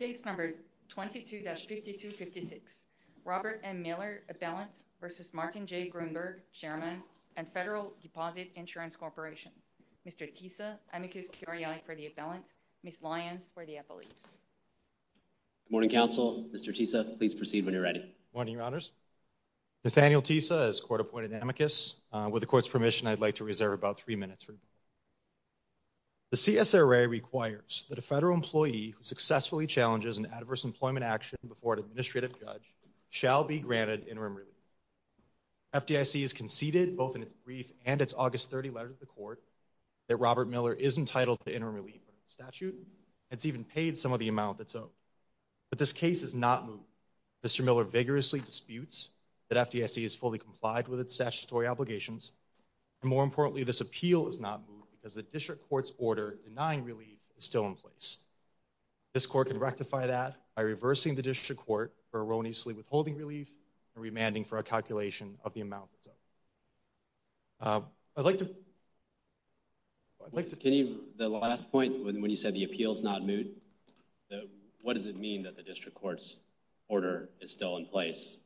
22-5256 Robert M. Miller Appellant v. Martin J. Gruenberg, Chairman, and Federal Deposit Insurance Corporation. Mr. Tisa, amicus curiae for the appellant. Ms. Lyons for the appellate. Good morning, counsel. Mr. Tisa, please proceed when you're ready. Good morning, your honors. Nathaniel Tisa is court-appointed amicus. With the court's permission, I'd like to reserve about three minutes for debate. The CSRA requires that a federal employee who successfully challenges an adverse employment action before an administrative judge shall be granted interim relief. FDIC has conceded both in its brief and its August 30 letter to the court that Robert Miller is entitled to interim relief under the statute. It's even paid some of the amount that's owed. But this case is not moved. Mr. Miller vigorously disputes that FDIC is fully complied with statutory obligations. And more importantly, this appeal is not moved because the district court's order denying relief is still in place. This court can rectify that by reversing the district court for erroneously withholding relief and remanding for a calculation of the amount that's owed. I'd like to, I'd like to, can you, the last point when you said the appeal's not moved, what does it mean that the district court's order is still in place?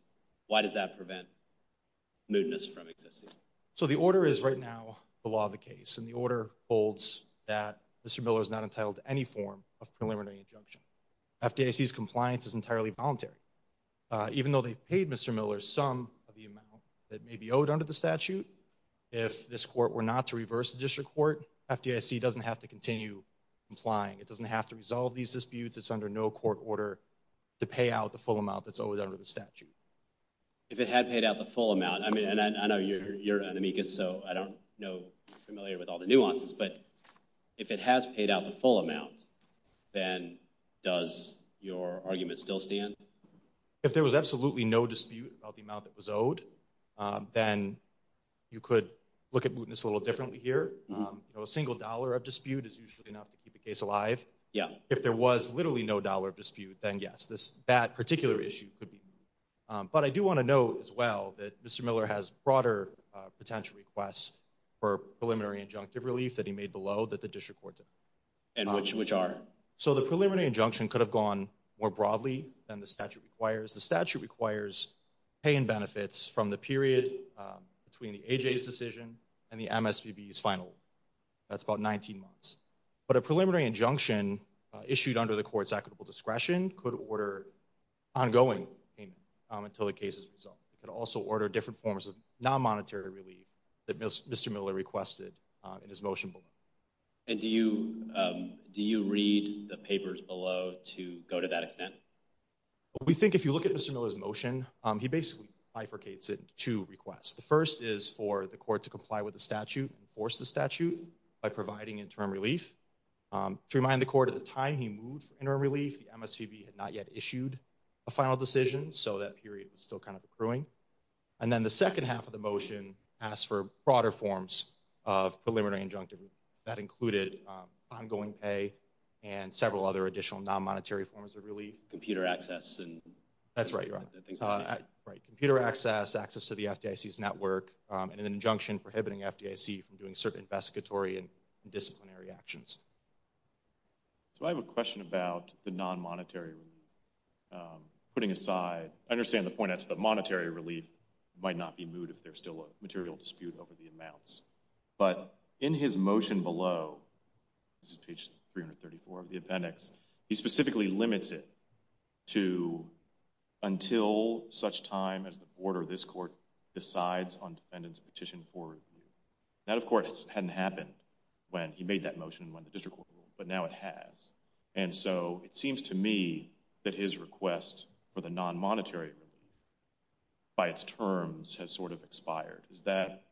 So the order is right now, the law of the case and the order holds that Mr. Miller is not entitled to any form of preliminary injunction. FDIC's compliance is entirely voluntary. Even though they paid Mr. Miller some of the amount that may be owed under the statute, if this court were not to reverse the district court, FDIC doesn't have to continue complying. It doesn't have to resolve these disputes. It's under no court order to pay out the full amount. I mean, and I know you're an amicus, so I don't know, familiar with all the nuances, but if it has paid out the full amount, then does your argument still stand? If there was absolutely no dispute about the amount that was owed, then you could look at mootness a little differently here. You know, a single dollar of dispute is usually enough to keep the case alive. Yeah. If there was literally no dollar dispute, then yes, this, that particular issue could be. But I do want to note as well that Mr. Miller has broader potential requests for preliminary injunctive relief that he made below that the district court did. And which are? So the preliminary injunction could have gone more broadly than the statute requires. The statute requires pay and benefits from the period between the AJ's decision and the MSPB's final. That's about 19 months. But a preliminary injunction issued under the court's equitable discretion could order ongoing payment until the case is resolved. It could also order different forms of non-monetary relief that Mr. Miller requested in his motion below. And do you, do you read the papers below to go to that extent? We think if you look at Mr. Miller's motion, he basically bifurcates it into two requests. The first is for the court to comply with the statute and enforce the statute by providing interim relief. To remind the court at the time he moved for interim relief, the MSPB had not yet issued a final decision. So that period was still kind of accruing. And then the second half of the motion asked for broader forms of preliminary injunctive. That included ongoing pay and several other additional non-monetary forms of relief. Computer access and that's right. Right. Computer access, access to the FDIC's network and an injunction prohibiting FDIC from doing certain investigatory and disciplinary actions. So I have a question about the non-monetary relief. Putting aside, I understand the point that's the monetary relief might not be moot if there's still a material dispute over the amounts. But in his motion below, this is page 334 of the appendix, he specifically limits it to until such time as the board or this court decides on defendant's petition for relief. That of course hadn't happened when he made that motion and when the district court ruled, but now it has. And so it seems to me that his request for the non-monetary relief by its terms has sort of expired. Is that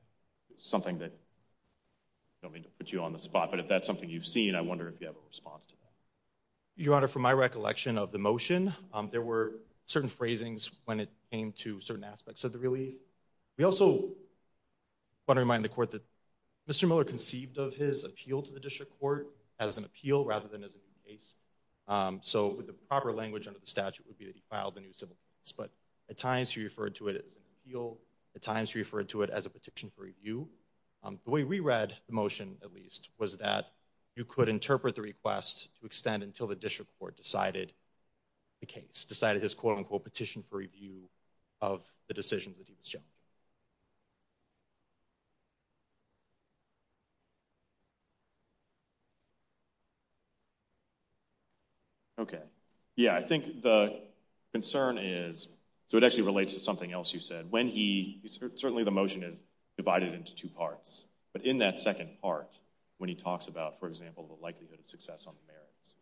something that, don't mean to put you on the spot, but if that's something you've seen, I wonder if you have a response to that. Your Honor, from my recollection of the motion, there were certain phrasings when it came to certain aspects of the relief. We also want to remind the court that Mr. Miller conceived of his appeal to the district court as an appeal rather than as a case. So with the proper language under the statute would be that he filed a new civil case. But at times he referred to it as an appeal, at times he referred to it as a petition for review. The way we read the motion, at least, was that you could interpret the request to extend until the district court decided the case, decided his quote unquote petition for review of the decisions that he was challenging. Okay. Yeah, I think the concern is, so it actually relates to something else you said. Certainly the motion is divided into two parts, but in that second part, when he talks about, for example, the likelihood of success on the merits,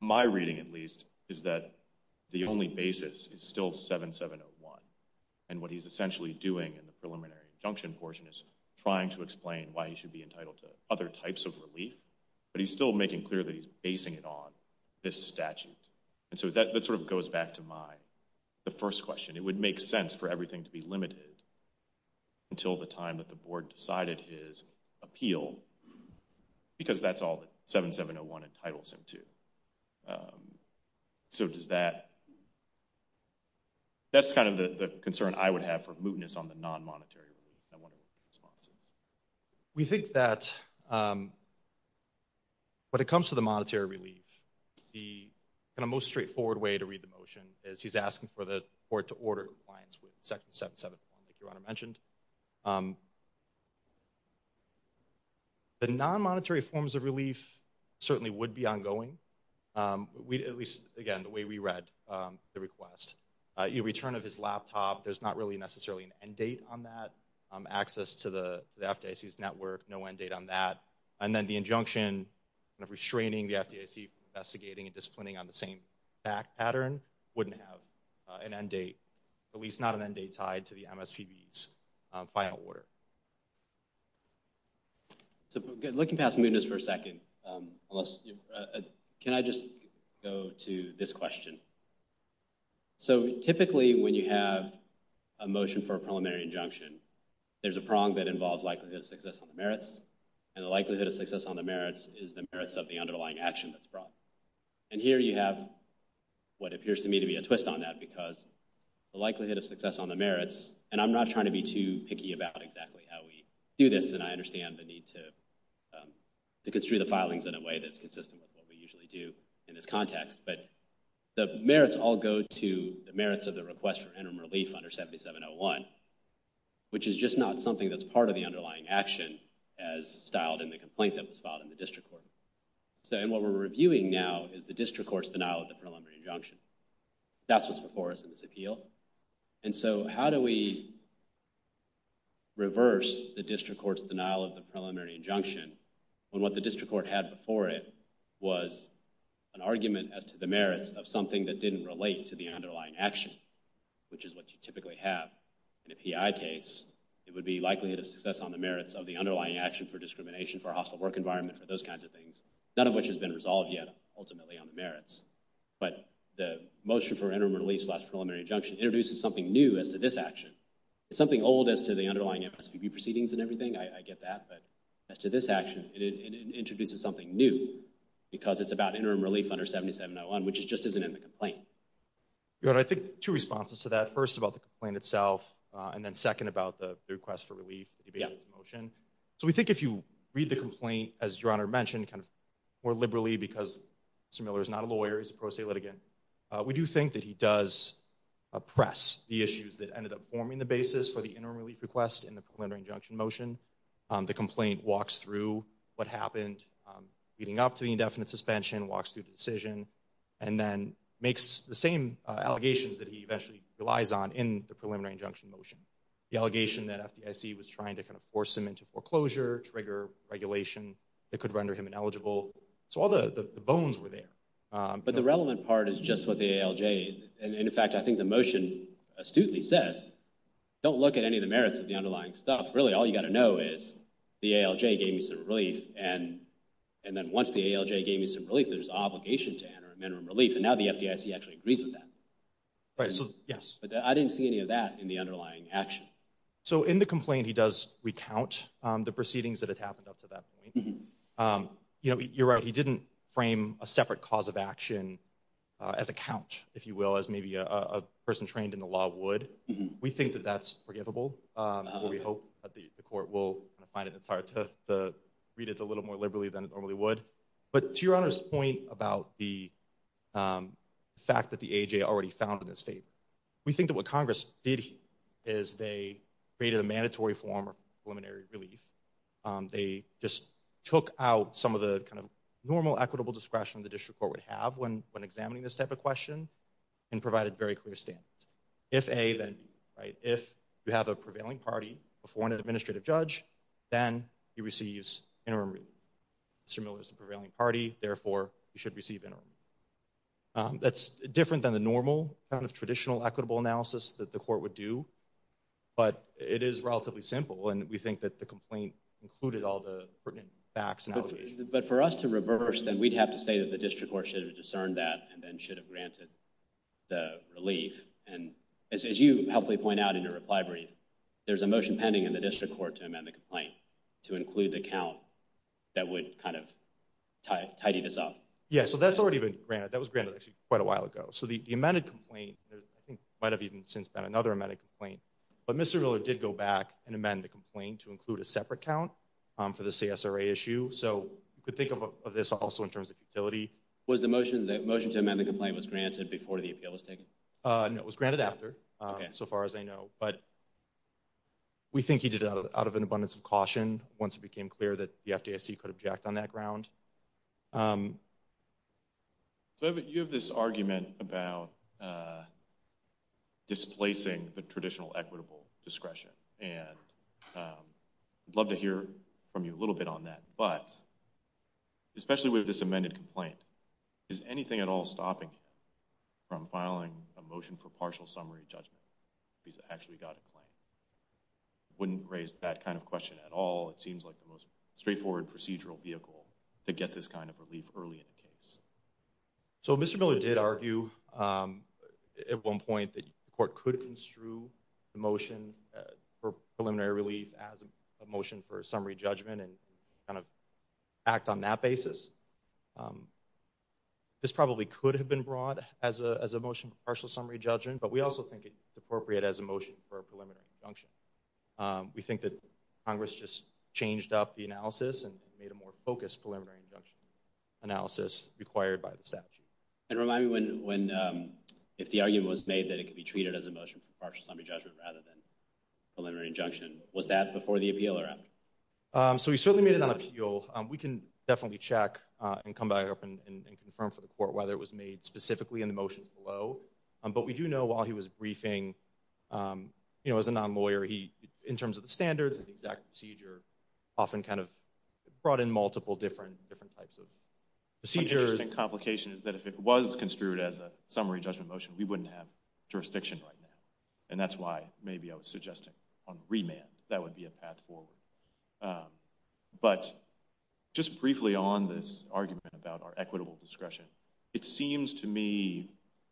my reading, at least, is that the only basis is still 7701. And what he's essentially doing in the preliminary injunction portion is trying to explain why he should be entitled to other types of relief, but he's still making clear that he's basing it on this statute. And so that sort of goes back to the first question. It would make sense for everything to be limited until the time that the board decided his appeal, because that's all that 7701 entitles him to. So does that, that's kind of the concern I would have for mootness on the non-monetary relief. We think that when it comes to the monetary relief, the kind of most straightforward way to read the motion is he's asking for the court to order compliance with section 7701, like your Honor mentioned. The non-monetary forms of relief certainly would be ongoing. At least, again, the way we read the request. Your return of his laptop, there's not really necessarily an end date on that. Access to the FDIC's network, no end date on that. And then the injunction, kind of restraining the FDIC from investigating and disciplining on the same fact pattern, wouldn't have an end date, at least not an end date tied to the MSPB's final order. So looking past mootness for a second, can I just go to this question? So typically when you have a motion for a preliminary injunction, there's a prong that involves likelihood of success on the merits, and the likelihood of success on the merits is of the underlying action that's brought. And here you have what appears to me to be a twist on that, because the likelihood of success on the merits, and I'm not trying to be too picky about exactly how we do this, and I understand the need to construe the filings in a way that's consistent with what we usually do in this context, but the merits all go to the merits of the request for interim relief under 7701, which is just not something that's part of the underlying action as styled in the complaint that was filed in the district court. So and what we're reviewing now is the district court's denial of the preliminary injunction. That's what's before us in this appeal. And so how do we reverse the district court's denial of the preliminary injunction when what the district court had before it was an argument as to the merits of something that didn't relate to the underlying action, which is what you typically have in a PI case, it would be likelihood of success on the merits of the underlying action for discrimination, for a hostile work environment, for those kinds of things, none of which has been resolved yet ultimately on the merits. But the motion for interim release slash preliminary injunction introduces something new as to this action. It's something old as to the underlying MSPB proceedings and everything, I get that, but as to this action, it introduces something new because it's about interim relief under 7701, which just isn't in the complaint. I think two responses to that, first about the complaint itself, and then second about the request for relief, the debatables motion. So we think if you read the complaint, as your honor mentioned, kind of more liberally because Mr. Miller is not a lawyer, he's a pro se litigant, we do think that he does press the issues that ended up forming the basis for the interim relief request in the preliminary injunction motion. The complaint walks through what happened leading up to the indefinite suspension, walks through the decision, and then makes the same allegations that he eventually relies on in the preliminary injunction motion. The allegation that FDIC was trying to kind of force him into foreclosure, trigger regulation that could render him ineligible. So all the bones were there. But the relevant part is just what the ALJ, and in fact I think the motion astutely says, don't look at any of the merits of the underlying stuff. Really all you got to know is the ALJ gave me some relief, and then once the ALJ gave me some relief, and now the FDIC actually agrees with that. Right, so yes. But I didn't see any of that in the underlying action. So in the complaint he does recount the proceedings that had happened up to that point. You know, you're right, he didn't frame a separate cause of action as a count, if you will, as maybe a person trained in the law would. We think that that's forgivable. We hope that the court will find it. It's hard to read it a little more liberally than it normally would. But to your Honor's point about the fact that the AJ already found in his favor, we think that what Congress did here is they created a mandatory form of preliminary relief. They just took out some of the kind of normal equitable discretion the district court would have when examining this type of question, and provided very clear standards. If A, then B. If you have a prevailing party before an administrative judge, then he receives interim relief. Mr. Miller's a prevailing party, therefore he should receive interim relief. That's different than the normal kind of traditional equitable analysis that the court would do, but it is relatively simple, and we think that the complaint included all the pertinent facts and allegations. But for us to reverse, then we'd have to say that the district court should have discerned that, and then should have granted the relief. And as you helpfully point out in your reply brief, there's a motion pending in the district court to amend the complaint to include the count that would kind of tidy this up. Yeah, so that's already been granted. That was granted actually quite a while ago. So the amended complaint, I think might have even since been another amended complaint, but Mr. Miller did go back and amend the complaint to include a separate count for the CSRA issue. So you could think of this also in terms of utility. Was the motion to amend the complaint was granted before the appeal was taken? No, it was granted after, so far as I know. But we think he did it out of an abundance of caution once it became clear that the FDIC could object on that ground. So you have this argument about displacing the traditional equitable discretion, and I'd love to hear from you a little bit on that. But especially with this amended complaint, is anything at all stopping him from filing a motion for partial summary judgment if he's actually got a claim? Wouldn't raise that kind of question at all. It seems like the most straightforward procedural vehicle to get this kind of relief early in the case. So Mr. Miller did argue at one point that the court could construe the motion for preliminary relief as a motion for summary judgment and kind of act on that basis. This probably could have been brought as a motion for partial summary judgment, but we also think it's appropriate as a motion for a preliminary injunction. We think that Congress just changed up the analysis and made a more focused preliminary injunction analysis required by the statute. And remind me when if the argument was made that it could be treated as a motion for partial summary judgment rather than was that before the appeal or after? So he certainly made it on appeal. We can definitely check and come back up and confirm for the court whether it was made specifically in the motions below. But we do know while he was briefing, you know, as a non-lawyer, he, in terms of the standards, the exact procedure, often kind of brought in multiple different types of procedures. An interesting complication is that if it was construed as a summary judgment motion, we wouldn't have suggested on remand. That would be a path forward. But just briefly on this argument about our equitable discretion, it seems to me,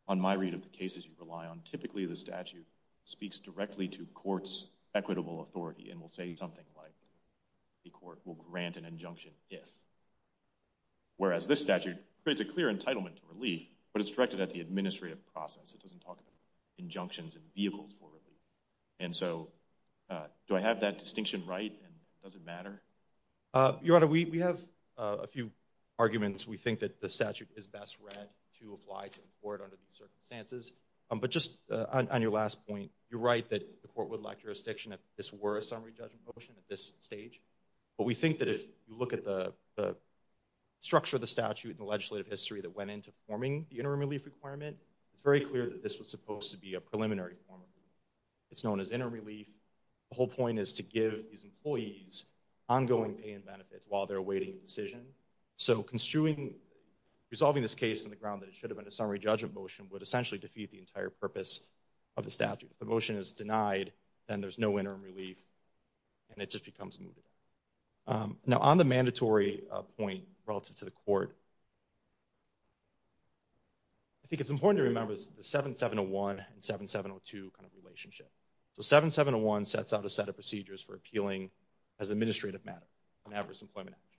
on my read of the cases you rely on, typically the statute speaks directly to court's equitable authority and will say something like the court will grant an injunction if. Whereas this statute creates a clear entitlement to relief, but it's directed at the administrative process. It doesn't talk about injunctions and vehicles for relief. And so do I have that distinction right and does it matter? Your Honor, we have a few arguments. We think that the statute is best read to apply to the court under these circumstances. But just on your last point, you're right that the court would lack jurisdiction if this were a summary judgment motion at this stage. But we think that if you look at the structure of the statute and the requirement, it's very clear that this was supposed to be a preliminary form of relief. It's known as interim relief. The whole point is to give these employees ongoing pay and benefits while they're awaiting a decision. So construing, resolving this case on the ground that it should have been a summary judgment motion would essentially defeat the entire purpose of the statute. If the motion is denied, then there's no interim relief and it just becomes moot. Now on the mandatory point relative to the court, I think it's important to remember the 7701 and 7702 kind of relationship. So 7701 sets out a set of procedures for appealing as an administrative matter, an adverse employment action.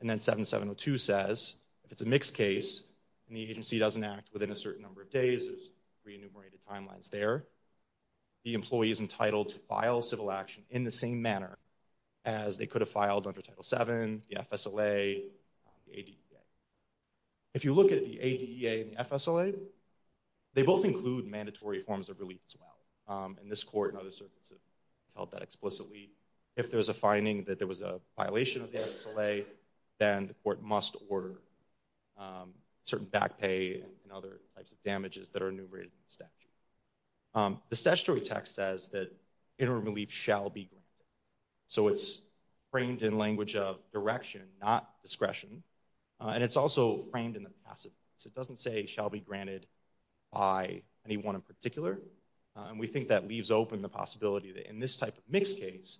And then 7702 says if it's a mixed case and the agency doesn't act within a certain number of days, there's re-enumerated timelines there, the employee is entitled to file civil action in the same manner as they could have filed under Title VII, the FSLA, the ADEA. If you look at the ADEA and FSLA, they both include mandatory forms of relief as well. And this court and other circuits have held that explicitly. If there's a finding that there was a violation of the FSLA, then the court must order certain back pay and other types of damages that are enumerated in the So it's framed in language of direction, not discretion. And it's also framed in the passive case. It doesn't say shall be granted by anyone in particular. And we think that leaves open the possibility that in this type of mixed case,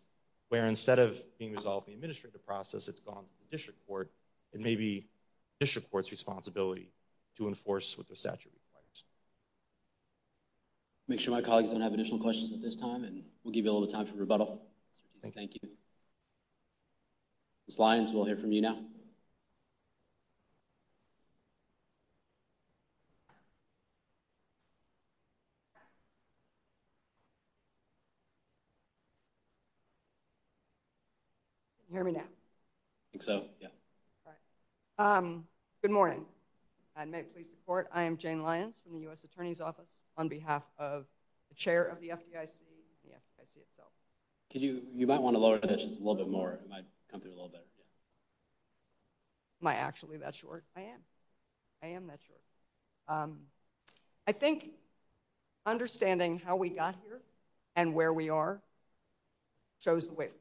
where instead of being resolved the administrative process, it's gone to the district court, it may be district court's responsibility to enforce what their statute requires. Make sure my colleagues don't have additional questions at this time and we'll give you a little time for rebuttal. Thank you. Ms. Lyons, we'll hear from you now. Can you hear me now? I think so, yeah. Good morning. And may it please the court, I am Jane Lyons from the U.S. Attorney's Office on behalf of the chair of the FDIC and the FDIC itself. Could you, you might want to lower that just a little bit more. It might come through a little better. Am I actually that short? I am. I am that short. I think understanding how we got here and where we are shows the way forward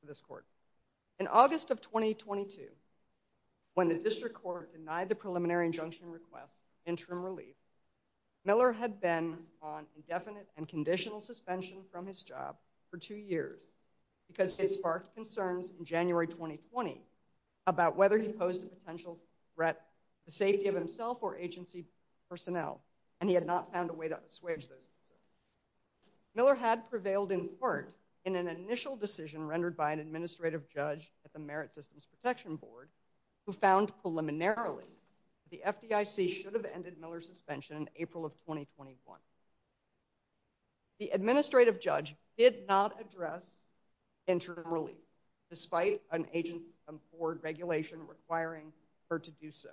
for this court. In August of 2022, when the district court denied the preliminary injunction request interim relief, Miller had been on indefinite and conditional suspension from his job for two years because it sparked concerns in January 2020 about whether he posed a potential threat to the safety of himself or agency personnel, and he had not found a way to assuage those concerns. Miller had prevailed in part in an initial decision rendered by an administrative judge at the Merit Systems Protection Board who found preliminarily the FDIC should have ended Miller's suspension in April of 2021. The administrative judge did not address interim relief despite an agent board regulation requiring her to do so.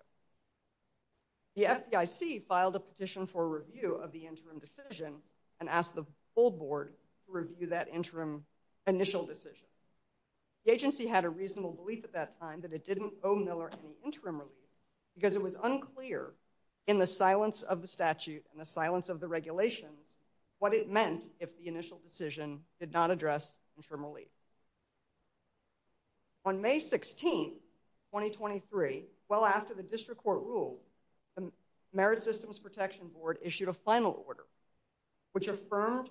The FDIC filed a petition for review of the interim decision and asked the board to review that interim initial decision. The agency had a reasonable belief at that time that it didn't owe Miller any interim relief because it was unclear in the silence of the statute and the silence of the regulations what it meant if the initial decision did not address interim relief. On May 16, 2023, well after the district court ruled, the Merit Systems Protection Board issued a final order which finding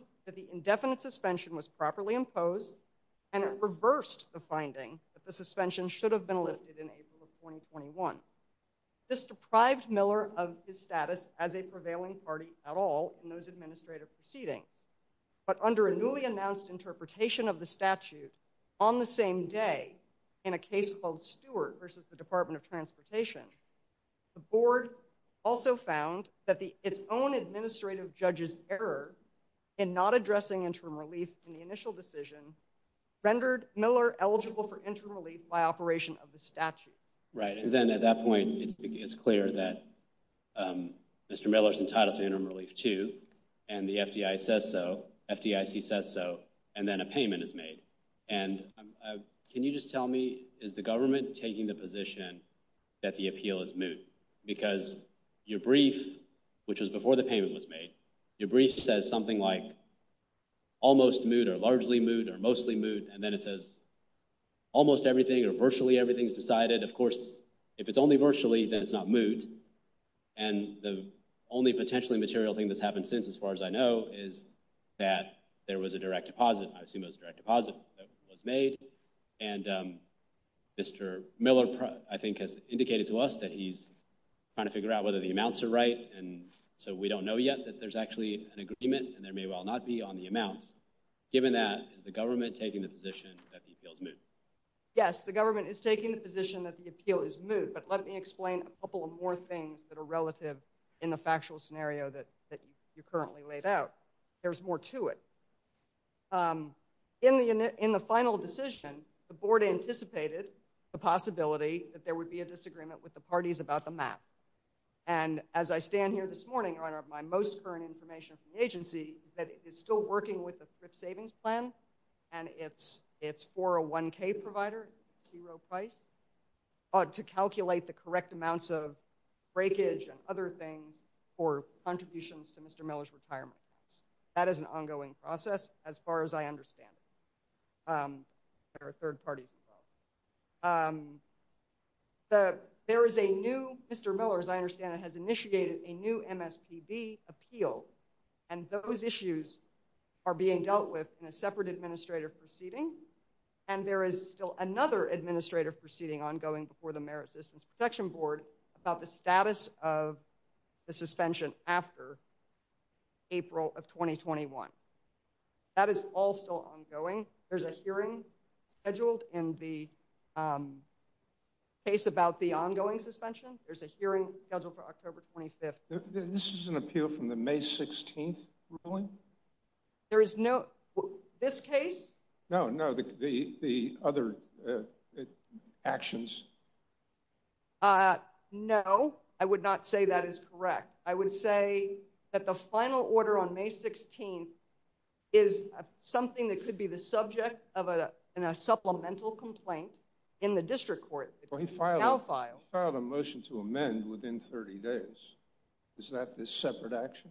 that the suspension should have been lifted in April of 2021. This deprived Miller of his status as a prevailing party at all in those administrative proceedings, but under a newly announced interpretation of the statute on the same day in a case called Stewart versus the Department of Transportation, the board also found that its own administrative judge's error in not addressing interim relief in the initial decision rendered Miller eligible for interim relief by operation of the statute. Right and then at that point it's clear that Mr. Miller's entitled to interim relief too and the FDIC says so and then a payment is made and can you just tell me is the government taking the position that the appeal is moot because your brief which was before the payment was made your brief says something like almost moot or largely moot or mostly moot and then it says almost everything or virtually everything's decided of course if it's only virtually then it's not moot and the only potentially material thing that's happened since as far as I know is that there was a direct deposit I assume it was a direct deposit that was made and um Mr. Miller I think has indicated to us that he's trying to figure out whether the yet that there's actually an agreement and there may well not be on the amounts given that is the government taking the position that the appeal is moot yes the government is taking the position that the appeal is moot but let me explain a couple of more things that are relative in the factual scenario that that you currently laid out there's more to it um in the in the final decision the board anticipated the possibility that there would be a disagreement with the most current information from the agency that is still working with the FRIP savings plan and it's it's for a 1k provider zero price to calculate the correct amounts of breakage and other things for contributions to Mr. Miller's retirement that is an ongoing process as far as I understand it um there are third parties involved um the there is a new Mr. Miller as I understand it has initiated a new MSPB appeal and those issues are being dealt with in a separate administrative proceeding and there is still another administrative proceeding ongoing before the merit systems protection board about the status of the suspension after April of 2021 that is all still ongoing there's a hearing scheduled in the um case about the ongoing suspension there's a hearing scheduled for October 25th this is an appeal from the May 16th ruling there is no this case no no the the other uh actions uh no I would not say that is correct I would say that the final order on May 16th is something that could be the subject of a a supplemental complaint in the district court now file a motion to amend within 30 days is that this separate action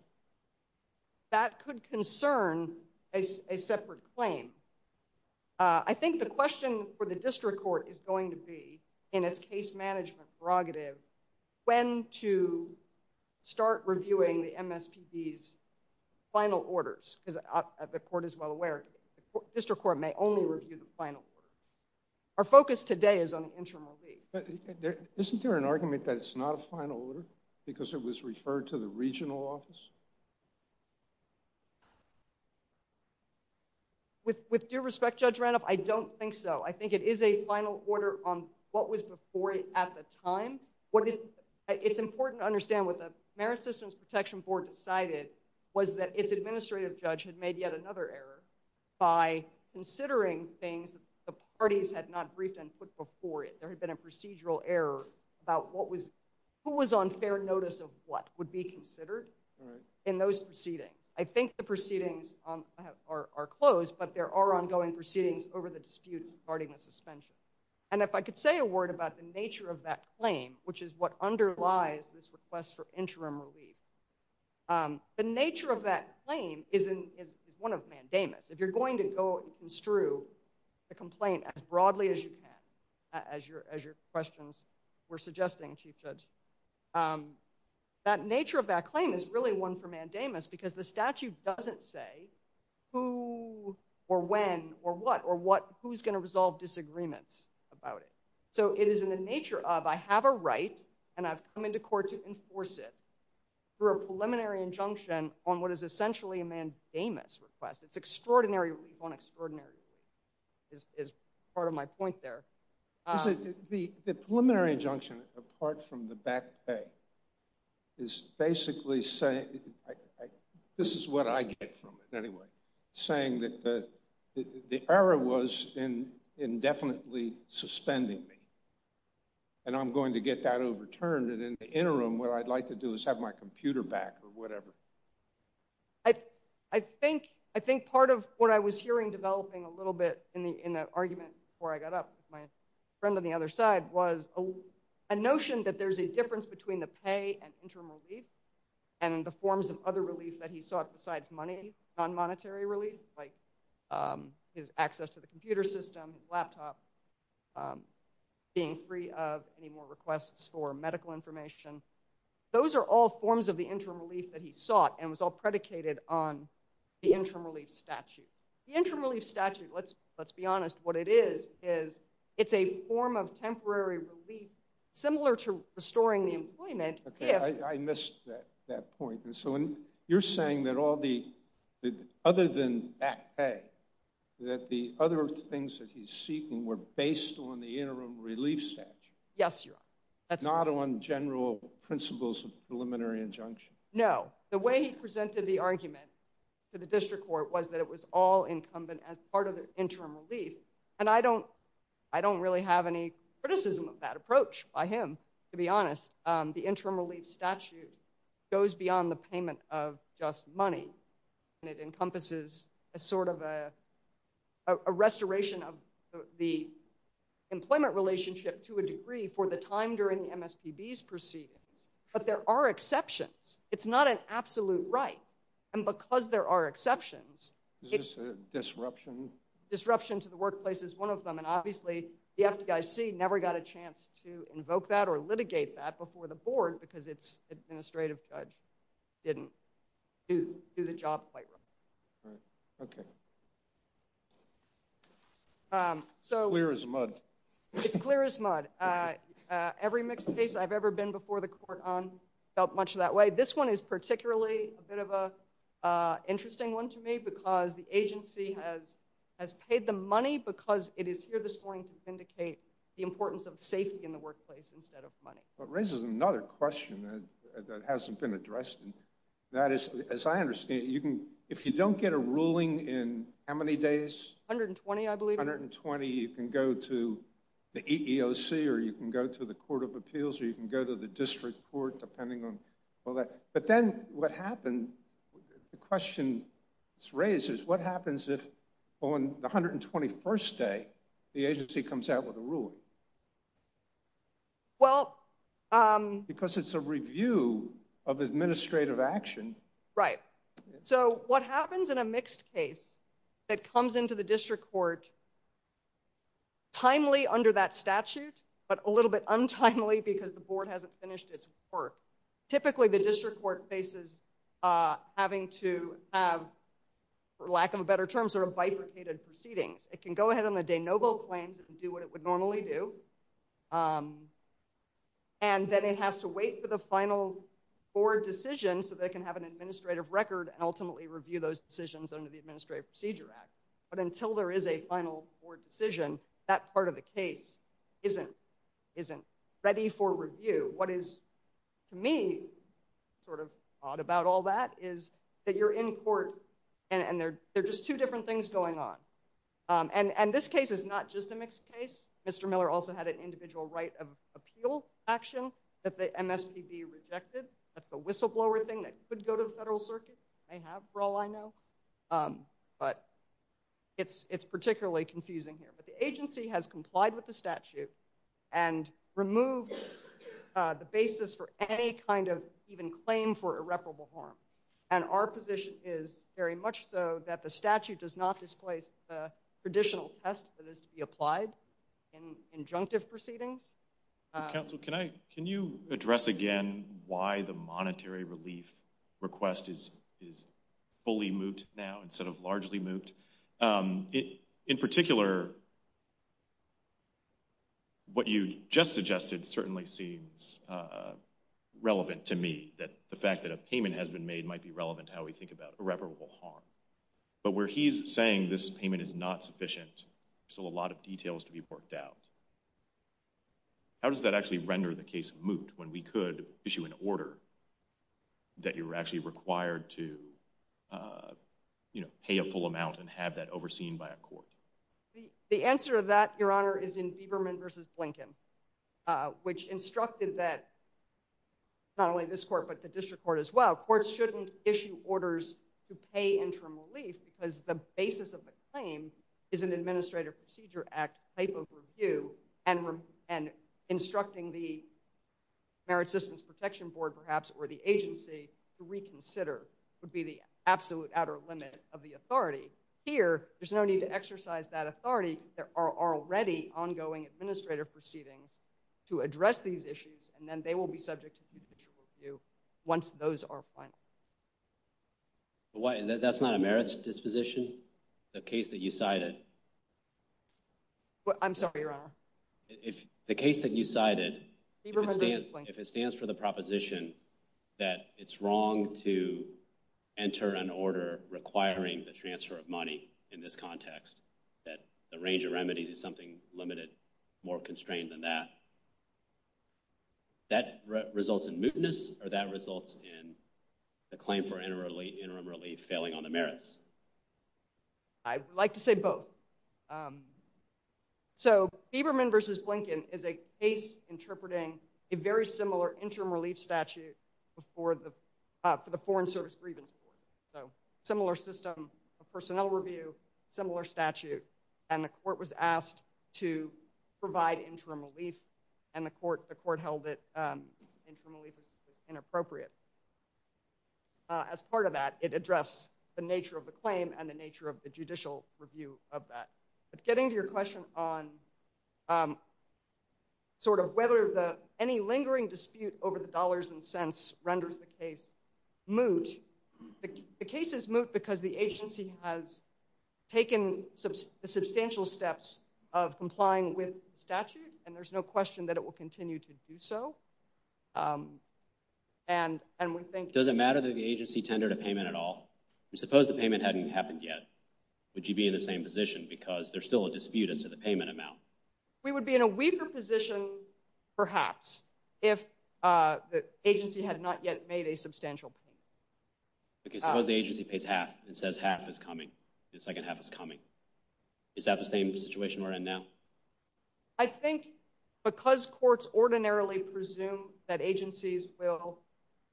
that could concern a separate claim I think the question for the district court is going to be in its case management prerogative when to start reviewing the MSPB's final orders because the court is well aware district court may only review the final order our focus today is on the interim relief isn't there an argument that it's not a final order because it was referred to the regional office with with due respect Judge Randolph I don't think so I think it is a final order on what was before it at the time what it it's protection board decided was that its administrative judge had made yet another error by considering things the parties had not briefed and put before it there had been a procedural error about what was who was on fair notice of what would be considered in those proceedings I think the proceedings are closed but there are ongoing proceedings over the disputes regarding the suspension and if I could say a word about the nature of that claim which is what underlies this request for interim relief the nature of that claim is in is one of mandamus if you're going to go and construe a complaint as broadly as you can as your as your questions were suggesting Chief Judge that nature of that claim is really one for mandamus because the statute doesn't say who or when or what or what who's going to resolve disagreements about it so it is in the nature of I have a right and I've come into court to enforce it through a preliminary injunction on what is essentially a mandamus request it's extraordinary relief on extraordinary is is part of my point there the the preliminary injunction apart from the back pay is basically saying this is what I to get that overturned and in the interim what I'd like to do is have my computer back or whatever I I think I think part of what I was hearing developing a little bit in the in the argument before I got up with my friend on the other side was a notion that there's a difference between the pay and interim relief and the forms of other relief that he sought besides money non-monetary like his access to the computer system his laptop being free of any more requests for medical information those are all forms of the interim relief that he sought and was all predicated on the interim relief statute the interim relief statute let's let's be honest what it is is it's a form of temporary relief similar to restoring the employment okay I missed that that point and so when you're saying that all the other than back pay that the other things that he's seeking were based on the interim relief statute yes your honor that's not on general principles of preliminary injunction no the way he presented the argument to the district court was that it was all incumbent as part of the interim relief and I don't I don't really have any criticism of that approach by him to be honest the interim relief statute goes beyond the payment of just money and it encompasses a sort of a a restoration of the employment relationship to a degree for the time during the MSPB's proceedings but there are exceptions it's not an absolute right and because there are exceptions it's a disruption disruption to the never got a chance to invoke that or litigate that before the board because its administrative judge didn't do the job quite right right okay um so clear as mud it's clear as mud uh every mixed case I've ever been before the court on felt much that way this one is particularly a bit of a uh interesting one to me because the agency has has paid the money because it is here this morning to vindicate the importance of safety in the workplace instead of money but raises another question that hasn't been addressed and that is as I understand you can if you don't get a ruling in how many days 120 I believe 120 you can go to the EEOC or you can go to the court of appeals or you can go to the district court depending on but then what happened the question is raised is what happens if on the 121st day the agency comes out with a ruling well um because it's a review of administrative action right so what happens in a mixed case that comes into the district court timely under that statute but a little bit untimely because the board hasn't finished its work typically the district court faces uh having to have for lack of a better term sort of bifurcated proceedings it can go ahead on the day noble claims and do what it would normally do um and then it has to wait for the final board decision so they can have an administrative record and ultimately review those decisions under the administrative procedure act but until there is a final board decision that part of the case isn't isn't ready for review what is to me sort of odd about all that is that you're in court and and they're they're just two different things going on um and and this case is not just a mixed case mr miller also had an individual right of appeal action that the mspb rejected that's the whistleblower thing that could go to the federal circuit they have for all i know um but it's it's particularly confusing here but the agency has complied with the statute and removed uh the basis for any kind of even claim for irreparable harm and our position is very much so that the statute does not displace the traditional test that is to be applied in injunctive proceedings council can i can you address again why the monetary relief request is is fully moot now instead of largely moot it in particular what you just suggested certainly seems uh relevant to me that the fact that a payment has been made might be relevant to how we think about irreparable harm but where he's saying this payment is not sufficient still a lot of details to be worked out how does that actually render the case moot when we could issue an order that you're actually required to uh you know pay a full amount and have that overseen by a court the the answer of that your honor is in bieberman versus blinken uh which instructed that not only this court but the district court as well courts shouldn't issue orders to pay interim relief because the basis of the claim is an administrative procedure act type of review and and instructing the merit systems protection board perhaps or the agency to reconsider would be the absolute outer limit of the authority here there's no need to exercise that authority there are already ongoing administrative proceedings to address these issues and then they will be subject to individual review once those are final why that's not a merits disposition the case that you cited what i'm sorry your honor if the case that you cited if it stands for the proposition that it's wrong to enter an order requiring the transfer of money in this context that the range of remedies is something limited more constrained than that that results in mootness or that results in the claim for interim relief failing on the merits i would like to say both um so bieberman versus blinken is a case interpreting a very similar interim relief statute before the uh for the foreign service grievance board so similar system of personnel review similar statute and the court was asked to provide interim relief and the court the court held that um interim relief was inappropriate as part of that it addressed the nature of the claim and the nature of the judicial review of that but getting to your question on um sort of whether the any lingering dispute over the dollars and cents renders the case moot the case is moot because the agency has taken substantial steps of complying with statute and there's no question that it will continue to do so um and and we think does matter that the agency tendered a payment at all we suppose the payment hadn't happened yet would you be in the same position because there's still a dispute as to the payment amount we would be in a weaker position perhaps if uh the agency had not yet made a substantial because the agency pays half and says half is coming the second half is coming is that the same situation we're in now i think because courts ordinarily presume that agencies will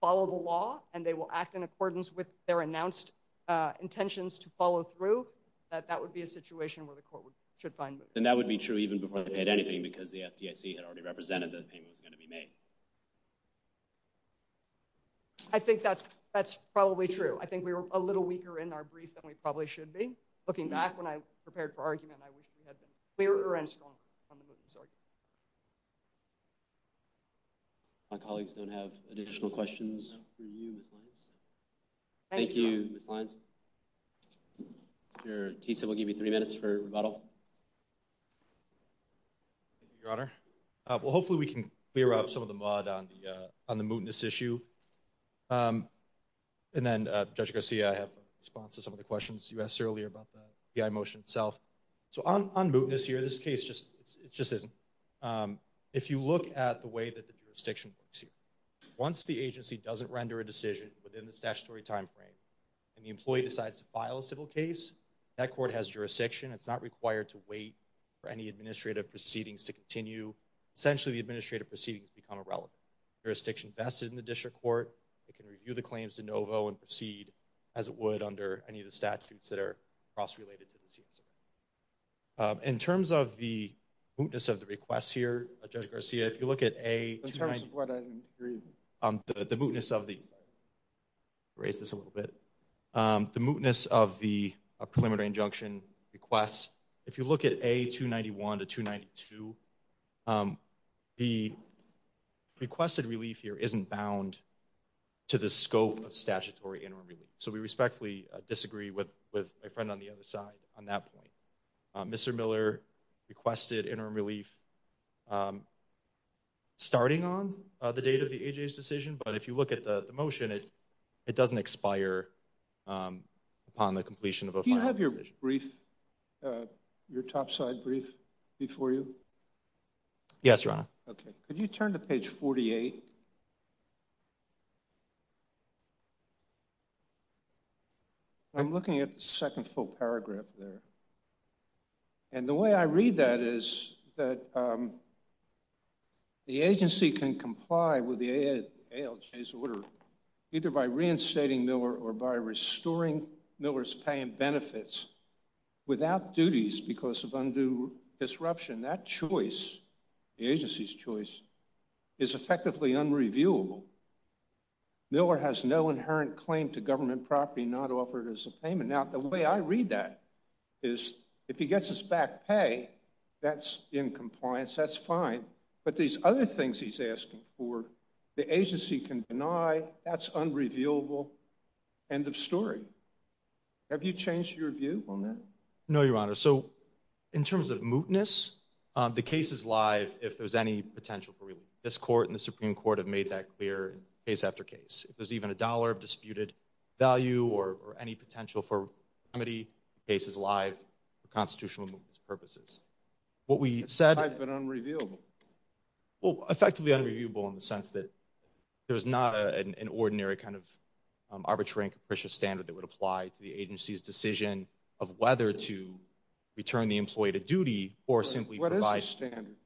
follow the law and they will act in accordance with their announced uh intentions to follow through that that would be a situation where the court would should find and that would be true even before they paid anything because the fdic had already represented that payment was going to be made i think that's that's probably true i think we were a little weaker in our brief than we probably should be looking back when i prepared for argument i wish we had been clearer and stronger i'm sorry my colleagues don't have additional questions for you thank you miss lines here tisa will give you three minutes for rebuttal your honor uh well hopefully we can clear up some of the mud on the uh on the mootness issue um and then uh judge garcia i have a response to some of the questions you asked earlier about the motion itself so on on mootness here this case just it just isn't um if you look at the way that the jurisdiction works here once the agency doesn't render a decision within the statutory time frame and the employee decides to file a civil case that court has jurisdiction it's not required to wait for any administrative proceedings to continue essentially the administrative proceedings become irrelevant jurisdiction vested in the district court it can review the claims to and proceed as it would under any of the statutes that are cross-related to this in terms of the mootness of the requests here judge garcia if you look at a the mootness of the raise this a little bit um the mootness of the a preliminary injunction requests if you look at a 291 to 292 the requested relief here isn't bound to the scope of statutory interim relief so we respectfully disagree with with my friend on the other side on that point mr miller requested interim relief starting on the date of the aj's decision but if you look at the motion it it doesn't expire um upon the completion of a you have your brief uh your top side brief before you yes your honor okay could you turn to page 48 i'm looking at the second full paragraph there and the way i read that is that um the agency can comply with the alj's order either by reinstating miller or by restoring miller's paying benefits without duties because of undue disruption that choice the agency's choice is effectively unreviewable miller has no inherent claim to government property not offered as a payment now the way i read that is if he gets his back pay that's in compliance that's fine but these other things he's asking for the agency can deny that's unrevealable end of story have you changed your view on that no your honor so in terms of mootness the case is live if there's any potential for relief this court and the supreme court have made that clear case after case if there's even a dollar of disputed value or any potential for remedy case is live for constitutional purposes what we said but unrevealable well effectively unreviewable in the sense that there's not an ordinary kind of arbitrary and capricious standard that would apply to the agency's decision of whether to return the employee to duty or simply what is the standard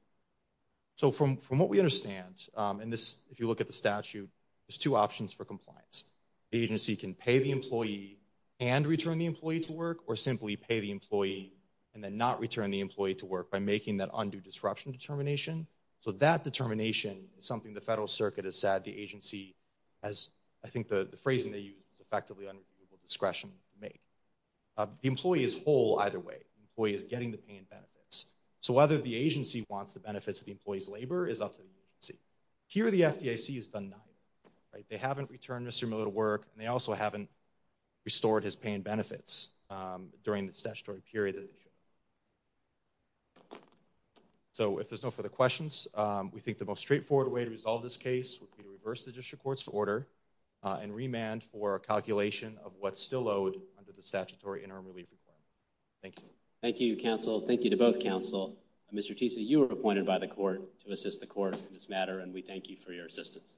so from from what we understand um and this if you look at the statute there's two options for compliance the agency can pay the employee and return the employee to work or simply pay the employee and then not return the employee to work by making that undue disruption determination so that determination is something the federal circuit has said the agency has i think the the phrasing they use is effectively under discretion make the employee is whole either way employee is getting the pain benefits so whether the agency wants the benefits of the employee's labor is up to the agency here the fdic has done nothing right they haven't returned mr miller to work and they also haven't restored his pain benefits um during the statutory period so if there's no further questions um we think the most straightforward way to resolve this case would be to reverse the district court's order and remand for a calculation of what's still owed under the statutory interim relief requirement thank you thank you counsel thank you to both counsel and mr teesey you were appointed by the court to assist the court in this matter and we thank you for your assistance